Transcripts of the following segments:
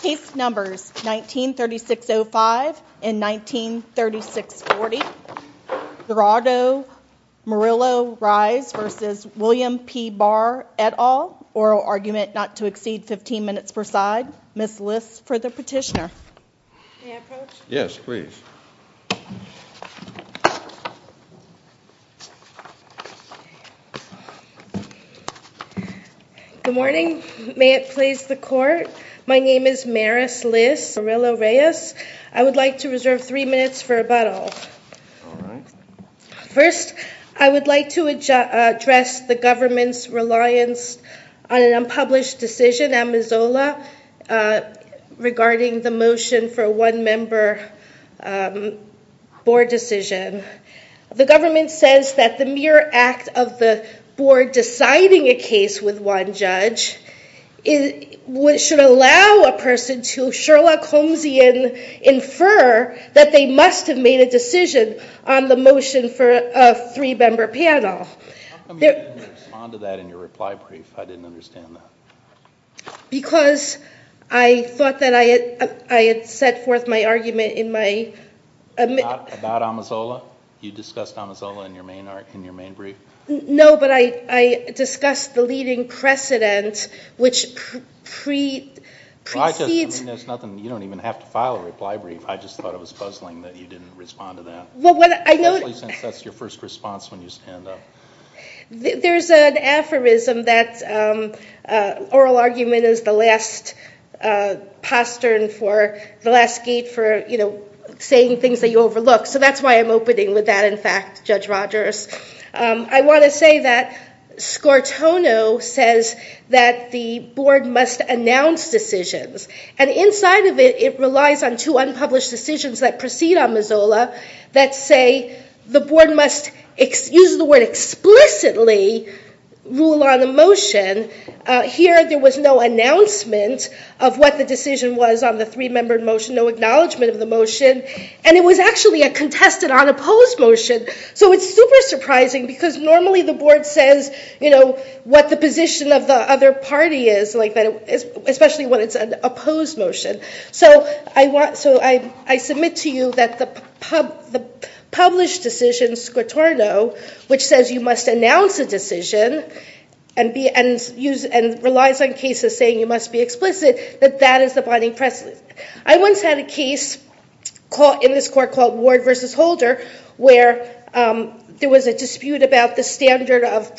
Case Numbers 19-3605 and 19-3640 Gerardo Murillo-Reyes v. William P Barr, et al. Oral argument not to exceed 15 minutes per side. Ms. List for the petitioner. May I approach? Yes, please. Good morning. May it please the Court. My name is Maris List Murillo-Reyes. I would like to reserve three minutes for rebuttal. All right. First, I would like to address the government's reliance on an unpublished decision at Missoula regarding the motion for a one-member board decision. The government says that the mere act of the board deciding a case with one judge should allow a person to Sherlock Holmesian infer that they must have made a decision on the motion for a three-member panel. How come you didn't respond to that in your reply brief? I didn't understand that. Because I thought that I had set forth my argument in my... About Amazola? You discussed Amazola in your main brief? No, but I discussed the leading precedent, which precedes... You don't even have to file a reply brief. I just thought it was puzzling that you didn't respond to that. Especially since that's your first response when you stand up. There's an aphorism that oral argument is the last posturne for, the last gate for saying things that you overlook. So that's why I'm opening with that, in fact, Judge Rogers. I want to say that Scortono says that the board must announce decisions. And inside of it, it relies on two unpublished decisions that proceed on Amazola that say the board must, uses the word explicitly, rule on a motion. Here there was no announcement of what the decision was on the three-member motion, no acknowledgement of the motion. And it was actually a contested unopposed motion. So it's super surprising because normally the board says what the position of the other party is, especially when it's an opposed motion. So I submit to you that the published decision, Scortono, which says you must announce a decision and relies on cases saying you must be explicit, that that is the binding precedent. I once had a case in this court called Ward v. Holder where there was a dispute about the standard of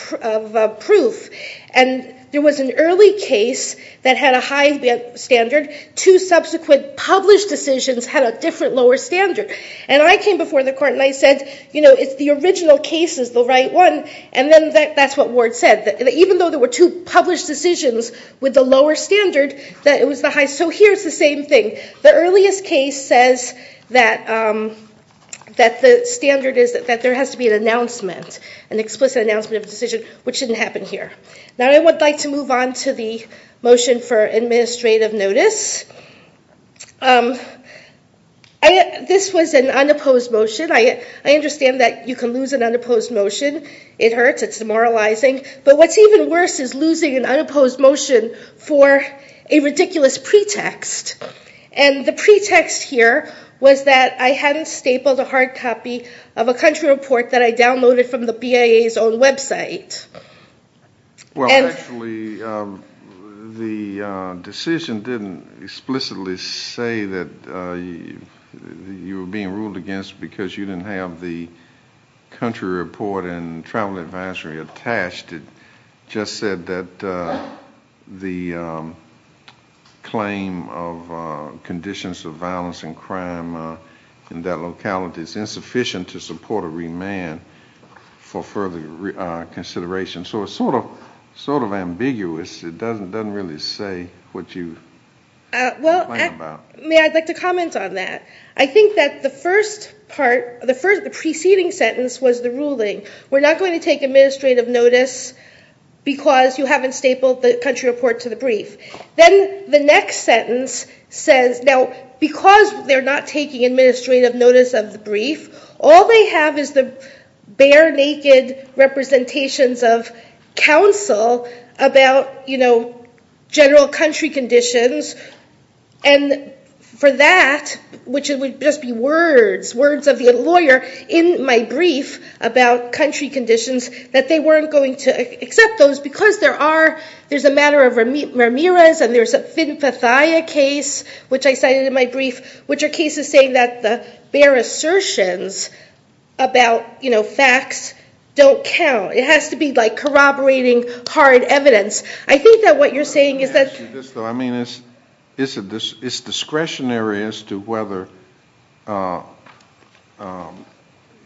proof. And there was an early case that had a high standard. Two subsequent published decisions had a different lower standard. And I came before the court and I said, you know, it's the original case is the right one. And then that's what Ward said, that even though there were two published decisions with the lower standard, that it was the highest. So here's the same thing. The earliest case says that the standard is that there has to be an announcement, an explicit announcement of a decision, which didn't happen here. Now I would like to move on to the motion for administrative notice. This was an unopposed motion. I understand that you can lose an unopposed motion. It hurts. It's demoralizing. But what's even worse is losing an unopposed motion for a ridiculous pretext. And the pretext here was that I hadn't stapled a hard copy of a country report that I downloaded from the BIA's own website. Well, actually, the decision didn't explicitly say that you were being ruled against because you didn't have the country report and travel advisory attached. It just said that the claim of conditions of violence and crime in that locality is insufficient to support a remand for further consideration. So it's sort of ambiguous. It doesn't really say what you're complaining about. Well, I'd like to comment on that. I think that the preceding sentence was the ruling, we're not going to take administrative notice because you haven't stapled the country report to the brief. Then the next sentence says, now, because they're not taking administrative notice of the brief, all they have is the bare naked representations of counsel about general country conditions. And for that, which would just be words, words of the lawyer in my brief about country conditions, that they weren't going to accept those because there's a matter of Ramirez and there's a Finfathia case, which I cited in my brief, which are cases saying that the bare assertions about facts don't count. It has to be corroborating hard evidence. I think that what you're saying is that it's discretionary as to whether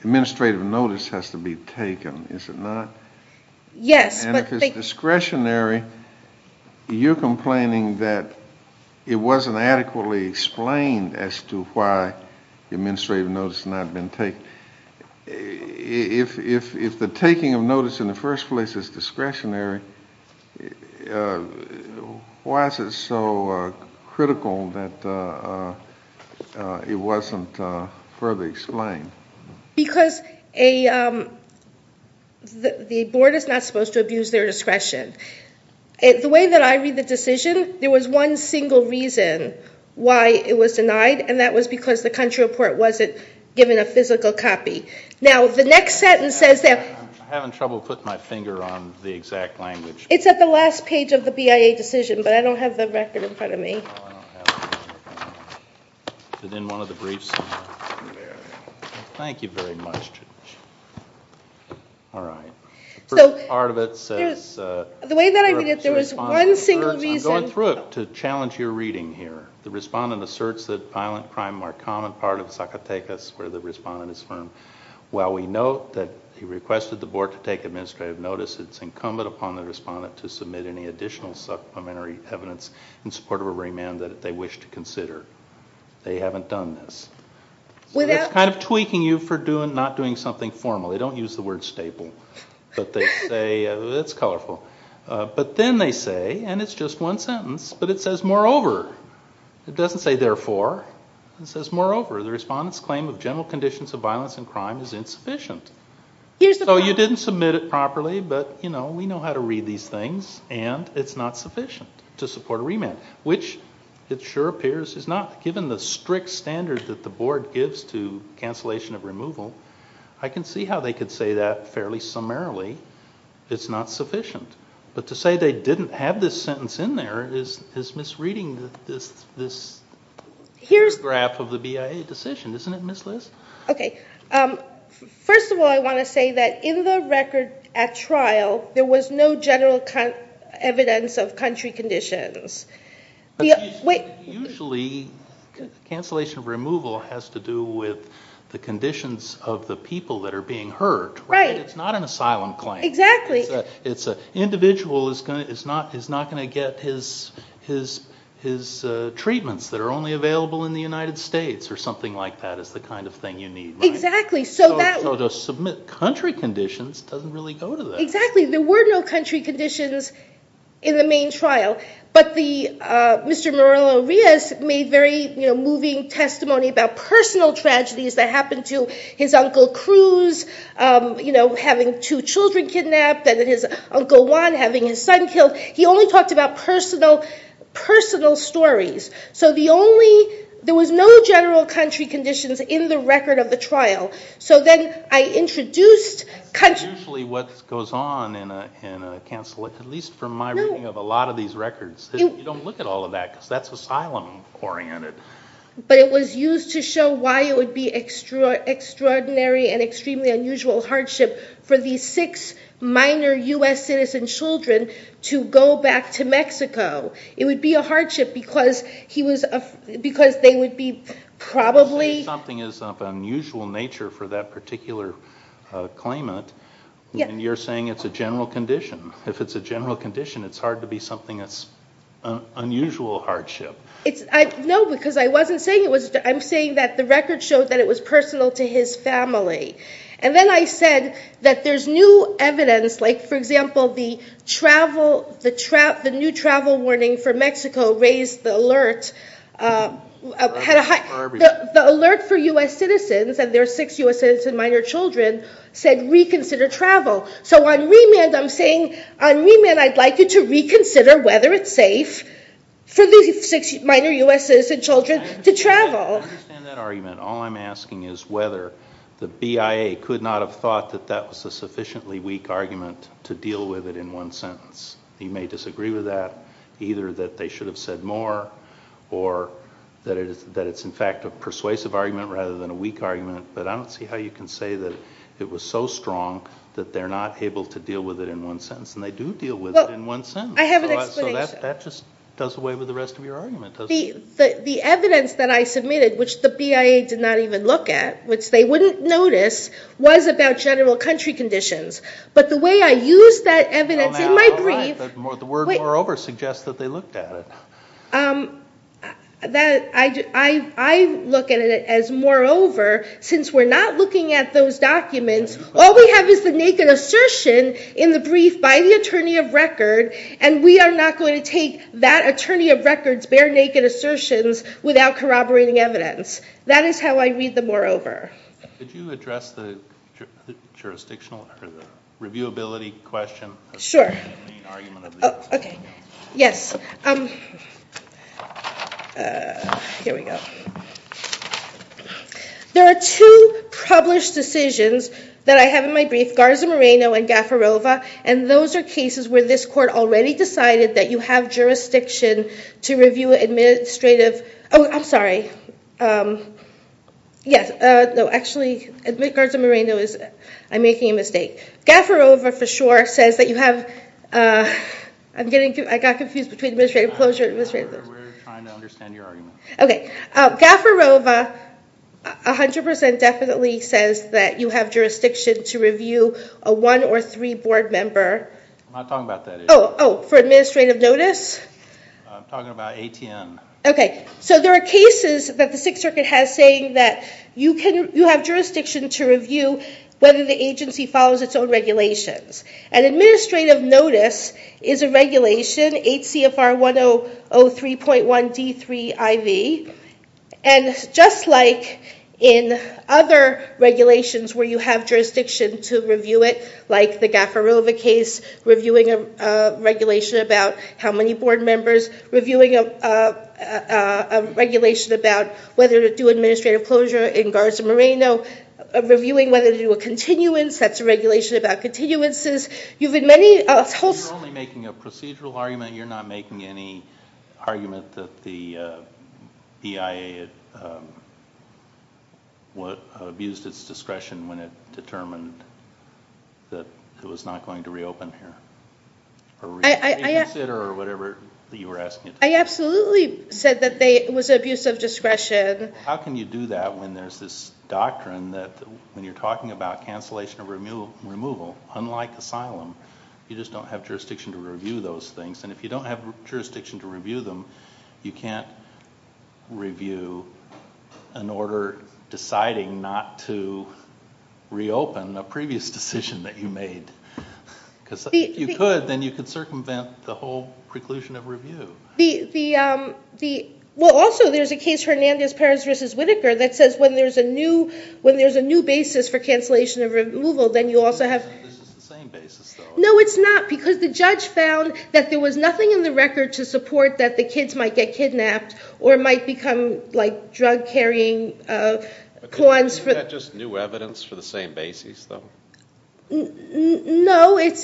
administrative notice has to be taken, is it not? Yes. And if it's discretionary, you're complaining that it wasn't adequately explained as to why administrative notice had not been taken. If the taking of notice in the first place is discretionary, why is it so critical that it wasn't further explained? Because the board is not supposed to abuse their discretion. The way that I read the decision, there was one single reason why it was denied, and that was because the country report wasn't given a physical copy. Now, the next sentence says that... I'm having trouble putting my finger on the exact language. It's at the last page of the BIA decision, but I don't have the record in front of me. Is it in one of the briefs? There. Thank you very much. All right. The first part of it says... The way that I read it, there was one single reason... I'm going through it to challenge your reading here. The respondent asserts that violent crime are a common part of Sakatekas, where the respondent is from. While we note that he requested the board to take administrative notice, it's incumbent upon the respondent to submit any additional supplementary evidence in support of a remand that they wish to consider. They haven't done this. So it's kind of tweaking you for not doing something formal. They don't use the word staple, but they say... It's colourful. But then they say, and it's just one sentence, but it says, moreover. It doesn't say therefore. It says, moreover, the respondent's claim of general conditions of violence and crime is insufficient. So you didn't submit it properly, but, you know, we know how to read these things, and it's not sufficient to support a remand, which it sure appears is not. Given the strict standard that the board gives to cancellation of removal, I can see how they could say that fairly summarily. It's not sufficient. But to say they didn't have this sentence in there is misreading this graph of the BIA decision. Isn't it, Ms. Lis? OK. First of all, I want to say that in the record at trial, there was no general evidence of country conditions. Usually, cancellation of removal has to do with the conditions of the people that are being hurt. Right. It's not an asylum claim. Exactly. An individual is not going to get his treatments that are only available in the United States, or something like that is the kind of thing you need. Exactly. So to submit country conditions doesn't really go to that. Exactly. There were no country conditions in the main trial, but Mr. Morello-Rios made very moving testimony about personal tragedies that happened to his Uncle Cruz, you know, having two children kidnapped, and his Uncle Juan having his son killed. He only talked about personal stories. So there was no general country conditions in the record of the trial. So then I introduced country conditions. That's usually what goes on in a cancel, at least from my reading of a lot of these records. You don't look at all of that, because that's asylum oriented. But it was used to show why it would be extraordinary and extremely unusual hardship for these six minor US citizen children to go back to Mexico. It would be a hardship because they would be probably... Something is of unusual nature for that particular claimant, and you're saying it's a general condition. If it's a general condition, it's hard to be something that's unusual hardship. No, because I wasn't saying it was. I'm saying that the record showed that it was personal to his family. And then I said that there's new evidence, like, for example, the new travel warning for Mexico raised the alert. The alert for US citizens and their six US citizen minor children said reconsider travel. So on remand, I'm saying on remand, I'd like you to reconsider whether it's safe for these six minor US citizen children to travel. I understand that argument. All I'm asking is whether the BIA could not have thought that that was a sufficiently weak argument to deal with it in one sentence. You may disagree with that, either that they should have said more or that it's, in fact, a persuasive argument rather than a weak argument, but I don't see how you can say that it was so strong that they're not able to deal with it in one sentence, and they do deal with it in one sentence. I have an explanation. So that just does away with the rest of your argument, doesn't it? The evidence that I submitted, which the BIA did not even look at, which they wouldn't notice, was about general country conditions. But the way I used that evidence in my brief... The word moreover suggests that they looked at it. I look at it as moreover. Since we're not looking at those documents, all we have is the naked assertion in the brief by the attorney of record, and we are not going to take that attorney of record's bare naked assertions without corroborating evidence. That is how I read the moreover. Did you address the reviewability question? Sure. There are two published decisions that I have in my brief, Garza Moreno and Gaffarova, and those are cases where this court already decided that you have jurisdiction to review administrative... Oh, I'm sorry. Actually, Garza Moreno, I'm making a mistake. Gaffarova for sure says that you have... I got confused between administrative closure and administrative... We're trying to understand your argument. Okay. Gaffarova 100% definitely says that you have jurisdiction to review a one or three board member. I'm not talking about that. Oh, for administrative notice? I'm talking about ATN. Okay. So there are cases that the Sixth Circuit has saying that you have jurisdiction to review whether the agency follows its own regulations, and administrative notice is a regulation, 8 CFR 1003.1 D3 IV, and just like in other regulations where you have jurisdiction to review it, like the Gaffarova case reviewing a regulation about how many board members, reviewing a regulation about whether to do administrative closure in Garza Moreno, reviewing whether to do a continuance, that's a regulation about continuances. You've had many... You're only making a procedural argument. You're not making any argument that the BIA abused its discretion when it determined that it was not going to reopen here. I absolutely said that it was abuse of discretion. How can you do that when there's this doctrine that when you're talking about cancellation or removal, unlike asylum, you just don't have jurisdiction to review those things, and if you don't have jurisdiction to review them, you can't review an order deciding not to reopen a previous decision that you made. If you could, then you could circumvent the whole preclusion of review. Also, there's a case, Hernandez-Perez v. Whitaker, that says when there's a new basis for cancellation or removal, then you also have... This is the same basis, though. No, it's not, because the judge found that there was nothing in the record to support that the kids might get kidnapped or might become drug-carrying clans. Is that just new evidence for the same basis, though? No, it's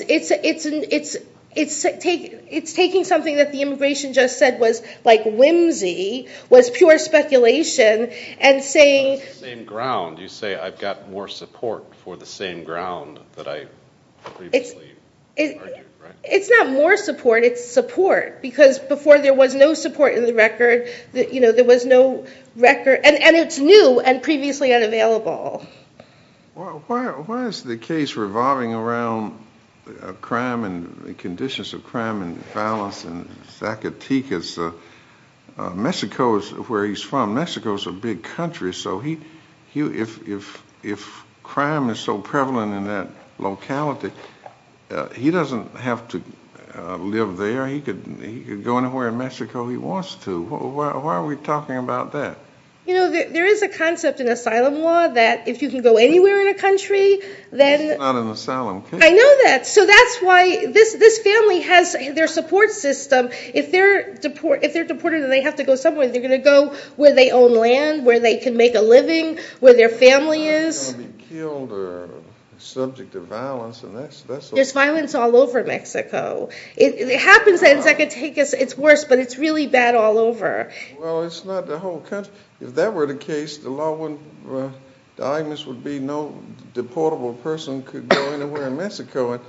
taking something that the immigration just said was whimsy, was pure speculation, and saying... It's the same ground. You say, I've got more support for the same ground that I previously argued, right? It's not more support, it's support, because before there was no support in the record, there was no record, and it's new and previously unavailable. Why is the case revolving around crime and the conditions of crime and violence in Zacatecas? Mexico is where he's from. Mexico's a big country, so if crime is so prevalent in that locality, he doesn't have to live there. He could go anywhere in Mexico he wants to. Why are we talking about that? You know, there is a concept in asylum law that if you can go anywhere in a country, then... It's not an asylum. I know that. So that's why this family has their support system. If they're deported and they have to go somewhere, they're going to go where they own land, where they can make a living, where their family is. They're not going to be killed or subject to violence. There's violence all over Mexico. It happens in Zacatecas. It's worse, but it's really bad all over. Well, it's not the whole country. If that were the case, the argument would be no deportable person could go anywhere in Mexico.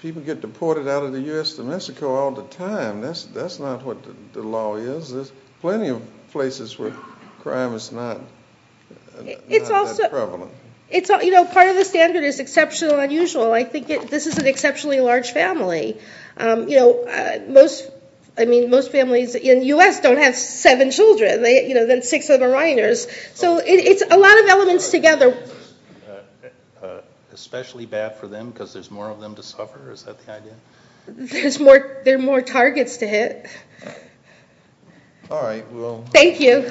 People get deported out of the US to Mexico all the time. That's not what the law is. There's plenty of places where crime is not that prevalent. It's also... You know, part of the standard is exceptional and unusual. I think this is an exceptionally large family. I mean, most families in the US don't have seven children. Then six of them are minors. So it's a lot of elements together. Especially bad for them because there's more of them to suffer? Is that the idea? There are more targets to hit. All right. Thank you.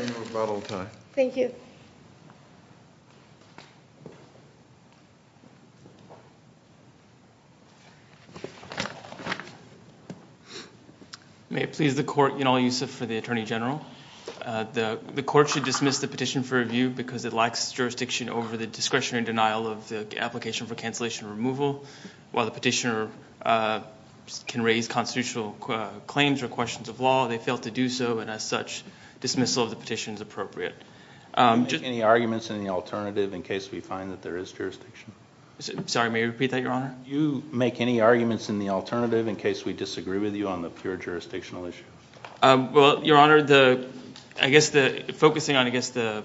Thank you. May it please the court, Yanal Yusuf for the Attorney General. The court should dismiss the petition for review because it lacks jurisdiction over the discretion and denial of the application for cancellation and removal. While the petitioner can raise constitutional claims or questions of law, they fail to do so, and as such, dismissal of the petition is appropriate. Do you make any arguments in the alternative in case we find that there is jurisdiction? Sorry, may I repeat that, Your Honour? Do you make any arguments in the alternative in case we disagree with you on the pure jurisdictional issue? Well, Your Honour, focusing on, I guess, the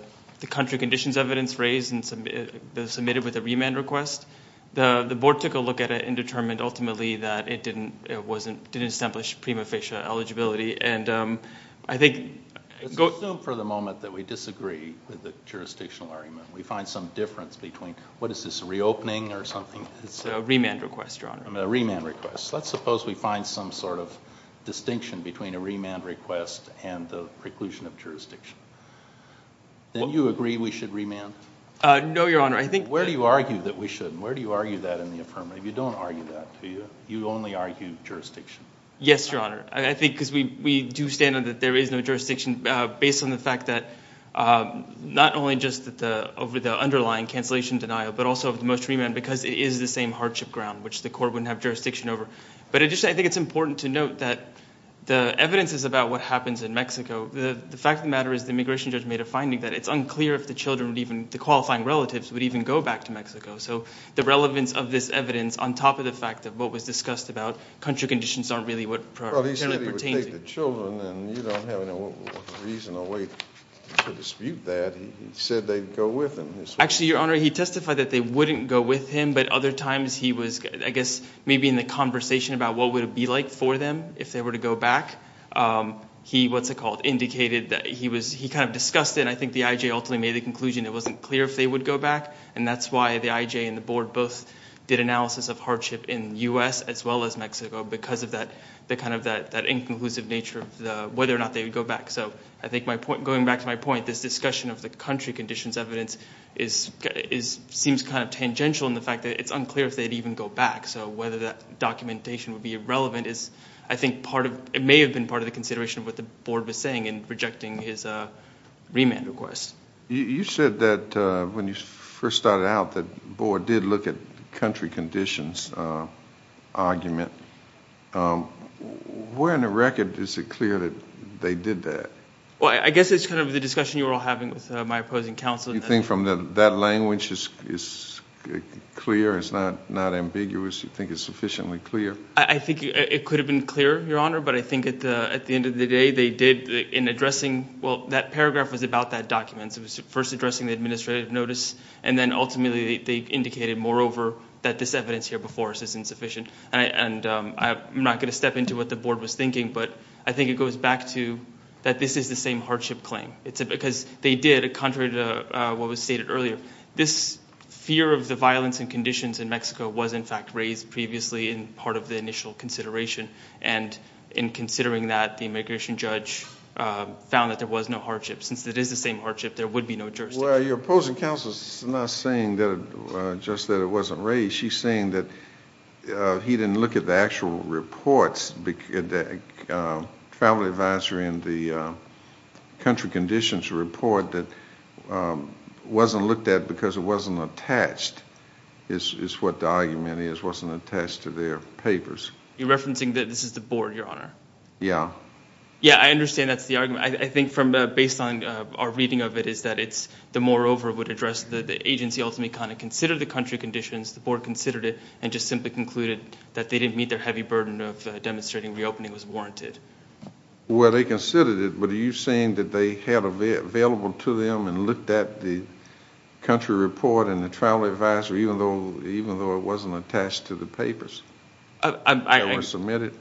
country conditions evidence raised and submitted with a remand request, the board took a look at it and determined ultimately that it didn't establish prima facie eligibility, and I think... Let's assume for the moment that we disagree with the jurisdictional argument. We find some difference between, what is this, a reopening or something? It's a remand request, Your Honour. A remand request. Let's suppose we find some sort of distinction between a remand request and the preclusion of jurisdiction. Then you agree we should remand? No, Your Honour, I think... Where do you argue that we shouldn't? Where do you argue that in the affirmative? You don't argue that, do you? You only argue jurisdiction. Yes, Your Honour. I think because we do stand on that there is no jurisdiction based on the fact that not only just over the underlying cancellation denial but also of the most remand because it is the same hardship ground, which the court wouldn't have jurisdiction over. But additionally, I think it's important to note that the evidence is about what happens in Mexico. The fact of the matter is the immigration judge made a finding that it's unclear if the children would even... the qualifying relatives would even go back to Mexico. So the relevance of this evidence on top of the fact of what was discussed about country conditions aren't really what... Well, he said he would take the children and you don't have any reason or way to dispute that. He said they'd go with him. Actually, Your Honour, he testified that they wouldn't go with him but other times he was, I guess, maybe in the conversation about what would it be like for them if they were to go back. He, what's it called, indicated that he was... he kind of discussed it and I think the IJ ultimately made the conclusion it wasn't clear if they would go back and that's why the IJ and the board both did analysis of hardship in the US as well as Mexico because of that... the kind of that inconclusive nature of whether or not they would go back. So I think my point... going back to my point, this discussion of the country conditions evidence is... seems kind of tangential in the fact that it's unclear if they'd even go back. So whether that documentation would be irrelevant is, I think, part of... it may have been part of the consideration of what the board was saying in rejecting his remand request. You said that when you first started out the board did look at country conditions argument. Where in the record is it clear that they did that? Well, I guess it's kind of the discussion you were all having with my opposing counsel. You think from that language it's clear, it's not ambiguous. You think it's sufficiently clear? I think it could have been clearer, Your Honor, but I think at the end of the day they did... in addressing... well, that paragraph was about that document. It was first addressing the administrative notice and then ultimately they indicated, moreover, that this evidence here before us is insufficient and I'm not going to step into what the board was thinking but I think it goes back to that this is the same hardship claim. It's because they did, contrary to what was stated earlier, this fear of the violence and conditions in Mexico was, in fact, raised previously in part of the initial consideration and in considering that the immigration judge found that there was no hardship. Since it is the same hardship, there would be no jurisdiction. Well, your opposing counsel is not saying just that it wasn't raised. She's saying that he didn't look at the actual reports that the family advisor in the country conditions report that wasn't looked at because it wasn't attached is what the argument is, wasn't attached to their papers. You're referencing that this is the board, Your Honor? Yeah. Yeah, I understand that's the argument. I think based on our reading of it is that it's the moreover would address the agency ultimately kind of considered the country conditions, the board considered it, and just simply concluded that they didn't meet their heavy burden of demonstrating reopening was warranted. Well, they considered it, but are you saying that they held available to them and looked at the country report and the travel advisor even though it wasn't attached to the papers that were submitted?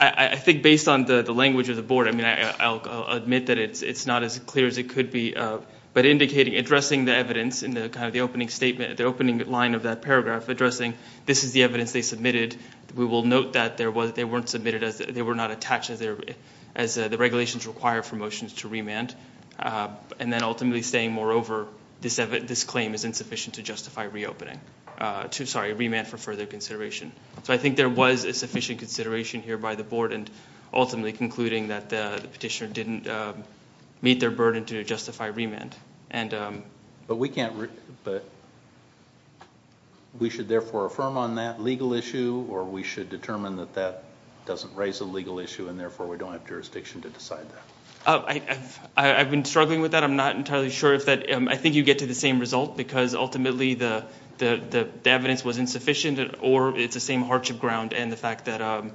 I think based on the language of the board, I mean, I'll admit that it's not as clear as it could be, but addressing the evidence in kind of the opening statement, the opening line of that paragraph, addressing this is the evidence they submitted, we will note that they weren't submitted, they were not attached as the regulations require for motions to remand, and then ultimately saying, moreover, this claim is insufficient to justify reopening. Sorry, remand for further consideration. So I think there was a sufficient consideration here by the board and ultimately concluding that the petitioner didn't meet their burden to justify remand. But we can't... We should therefore affirm on that legal issue or we should determine that that doesn't raise a legal issue and therefore we don't have jurisdiction to decide that? I've been struggling with that. I'm not entirely sure if that... I think you get to the same result because ultimately the evidence was insufficient or it's the same hardship ground and the fact that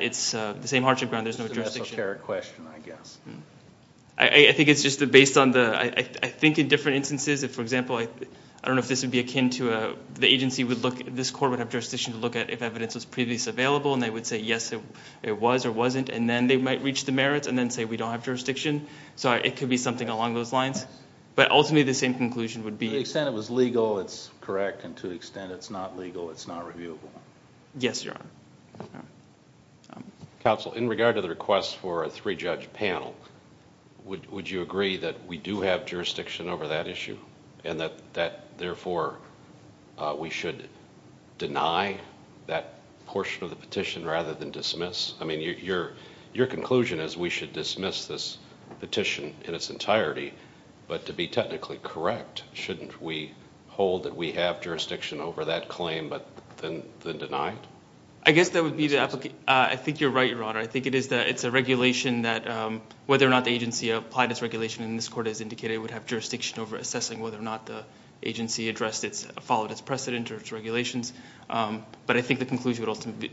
it's the same hardship ground, there's no jurisdiction. It's a esoteric question, I guess. I think it's just based on the... I think in different instances, for example, I don't know if this would be akin to... The agency would look... This court would have jurisdiction to look at if evidence was previously available and they would say, yes, it was or wasn't, and then they might reach the merits and then say, we don't have jurisdiction. So it could be something along those lines. But ultimately the same conclusion would be... To the extent it was legal, it's correct, and to the extent it's not legal, it's not reviewable. Yes, Your Honor. Counsel, in regard to the request for a three-judge panel, would you agree that we do have jurisdiction over that issue and that, therefore, we should deny that portion of the petition rather than dismiss? I mean, your conclusion is we should dismiss this petition in its entirety, but to be technically correct, shouldn't we hold that we have jurisdiction over that claim but then deny it? I guess that would be... I think you're right, Your Honor. I think it's a regulation that whether or not the agency applied this regulation, and this court has indicated it would have jurisdiction over assessing whether or not the agency followed its precedent or its regulations. But I think the conclusion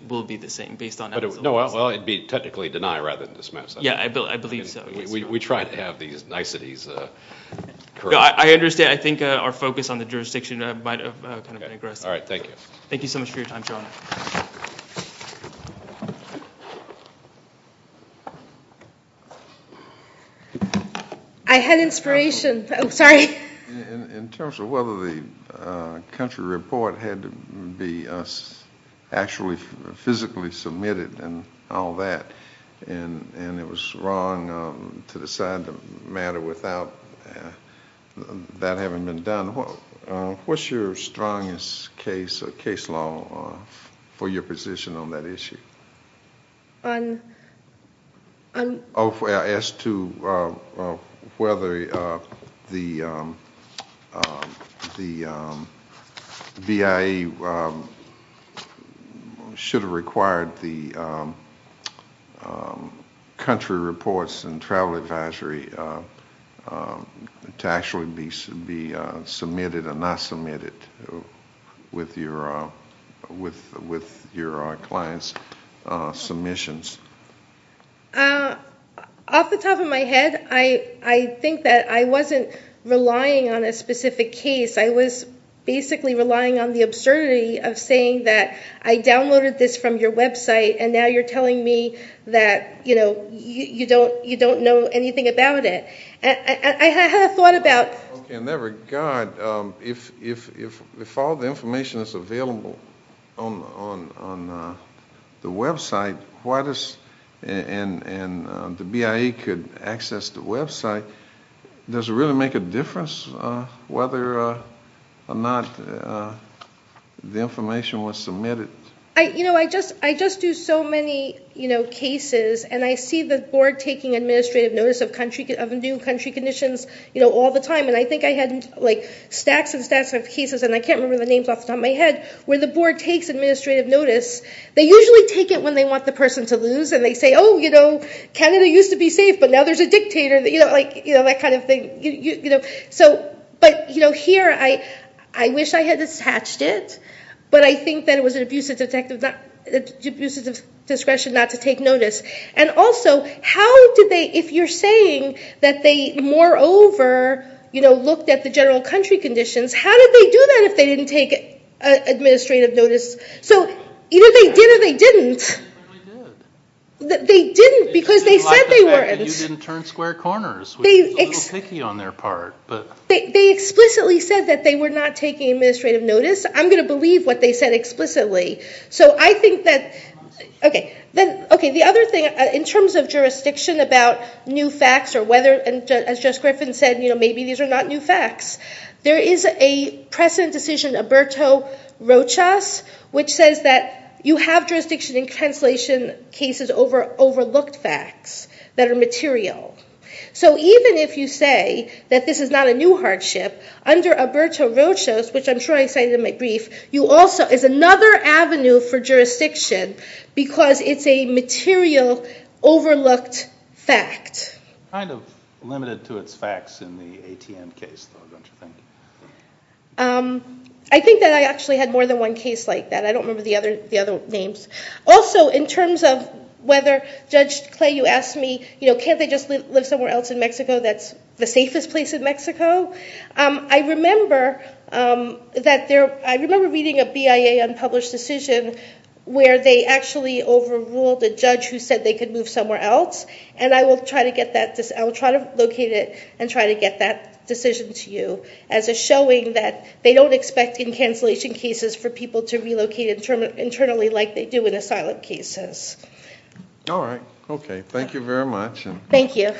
will be the same based on... Well, it would be technically deny rather than dismiss. Yeah, I believe so. We try to have these niceties correct. I understand. I think our focus on the jurisdiction might have kind of been aggressive. All right, thank you. Thank you so much for your time, Your Honor. I had inspiration. I'm sorry. In terms of whether the country report had to be actually physically submitted and all that, and it was wrong to decide the matter without that having been done, what's your strongest case law for your position on that issue? As to whether the BIE should have required the country reports and travel advisory to actually be submitted or not submitted with your client's submissions. Off the top of my head, I think that I wasn't relying on a specific case. I was basically relying on the absurdity of saying that I downloaded this from your website and now you're telling me that you don't know anything about it. In that regard, if all the information is available on the website and the BIE could access the website, does it really make a difference whether or not the information was submitted? I just do so many cases and I see the board taking administrative notice of new country conditions all the time. I think I had stacks and stacks of cases, and I can't remember the names off the top of my head, where the board takes administrative notice. They usually take it when they want the person to lose and they say, oh, Canada used to be safe, but now there's a dictator, that kind of thing. But here, I wish I had attached it, but I think that it was an abuse of discretion not to take notice. Also, if you're saying that they, moreover, looked at the general country conditions, how did they do that if they didn't take administrative notice? Either they did or they didn't. They didn't because they said they weren't. You didn't turn square corners, which is a little picky on their part. They explicitly said that they were not taking administrative notice. I'm going to believe what they said explicitly. The other thing, in terms of jurisdiction about new facts, or whether, as Judge Griffin said, maybe these are not new facts, there is a precedent decision, Oberto Rochas, which says that you have jurisdiction in cancellation cases over overlooked facts that are material. Even if you say that this is not a new hardship, under Oberto Rochas, which I'm sure I cited in my brief, is another avenue for jurisdiction because it's a material overlooked fact. Kind of limited to its facts in the ATM case, don't you think? I think that I actually had more than one case like that. I don't remember the other names. Also, in terms of whether, Judge Clay, you asked me, can't they just live somewhere else in Mexico that's the safest place in Mexico? I remember reading a BIA unpublished decision where they actually overruled a judge who said they could move somewhere else, and I will try to locate it and try to get that decision to you as a showing that they don't expect in cancellation cases for people to relocate internally like they do in asylum cases. All right, okay. Thank you very much. Thank you. Thank you.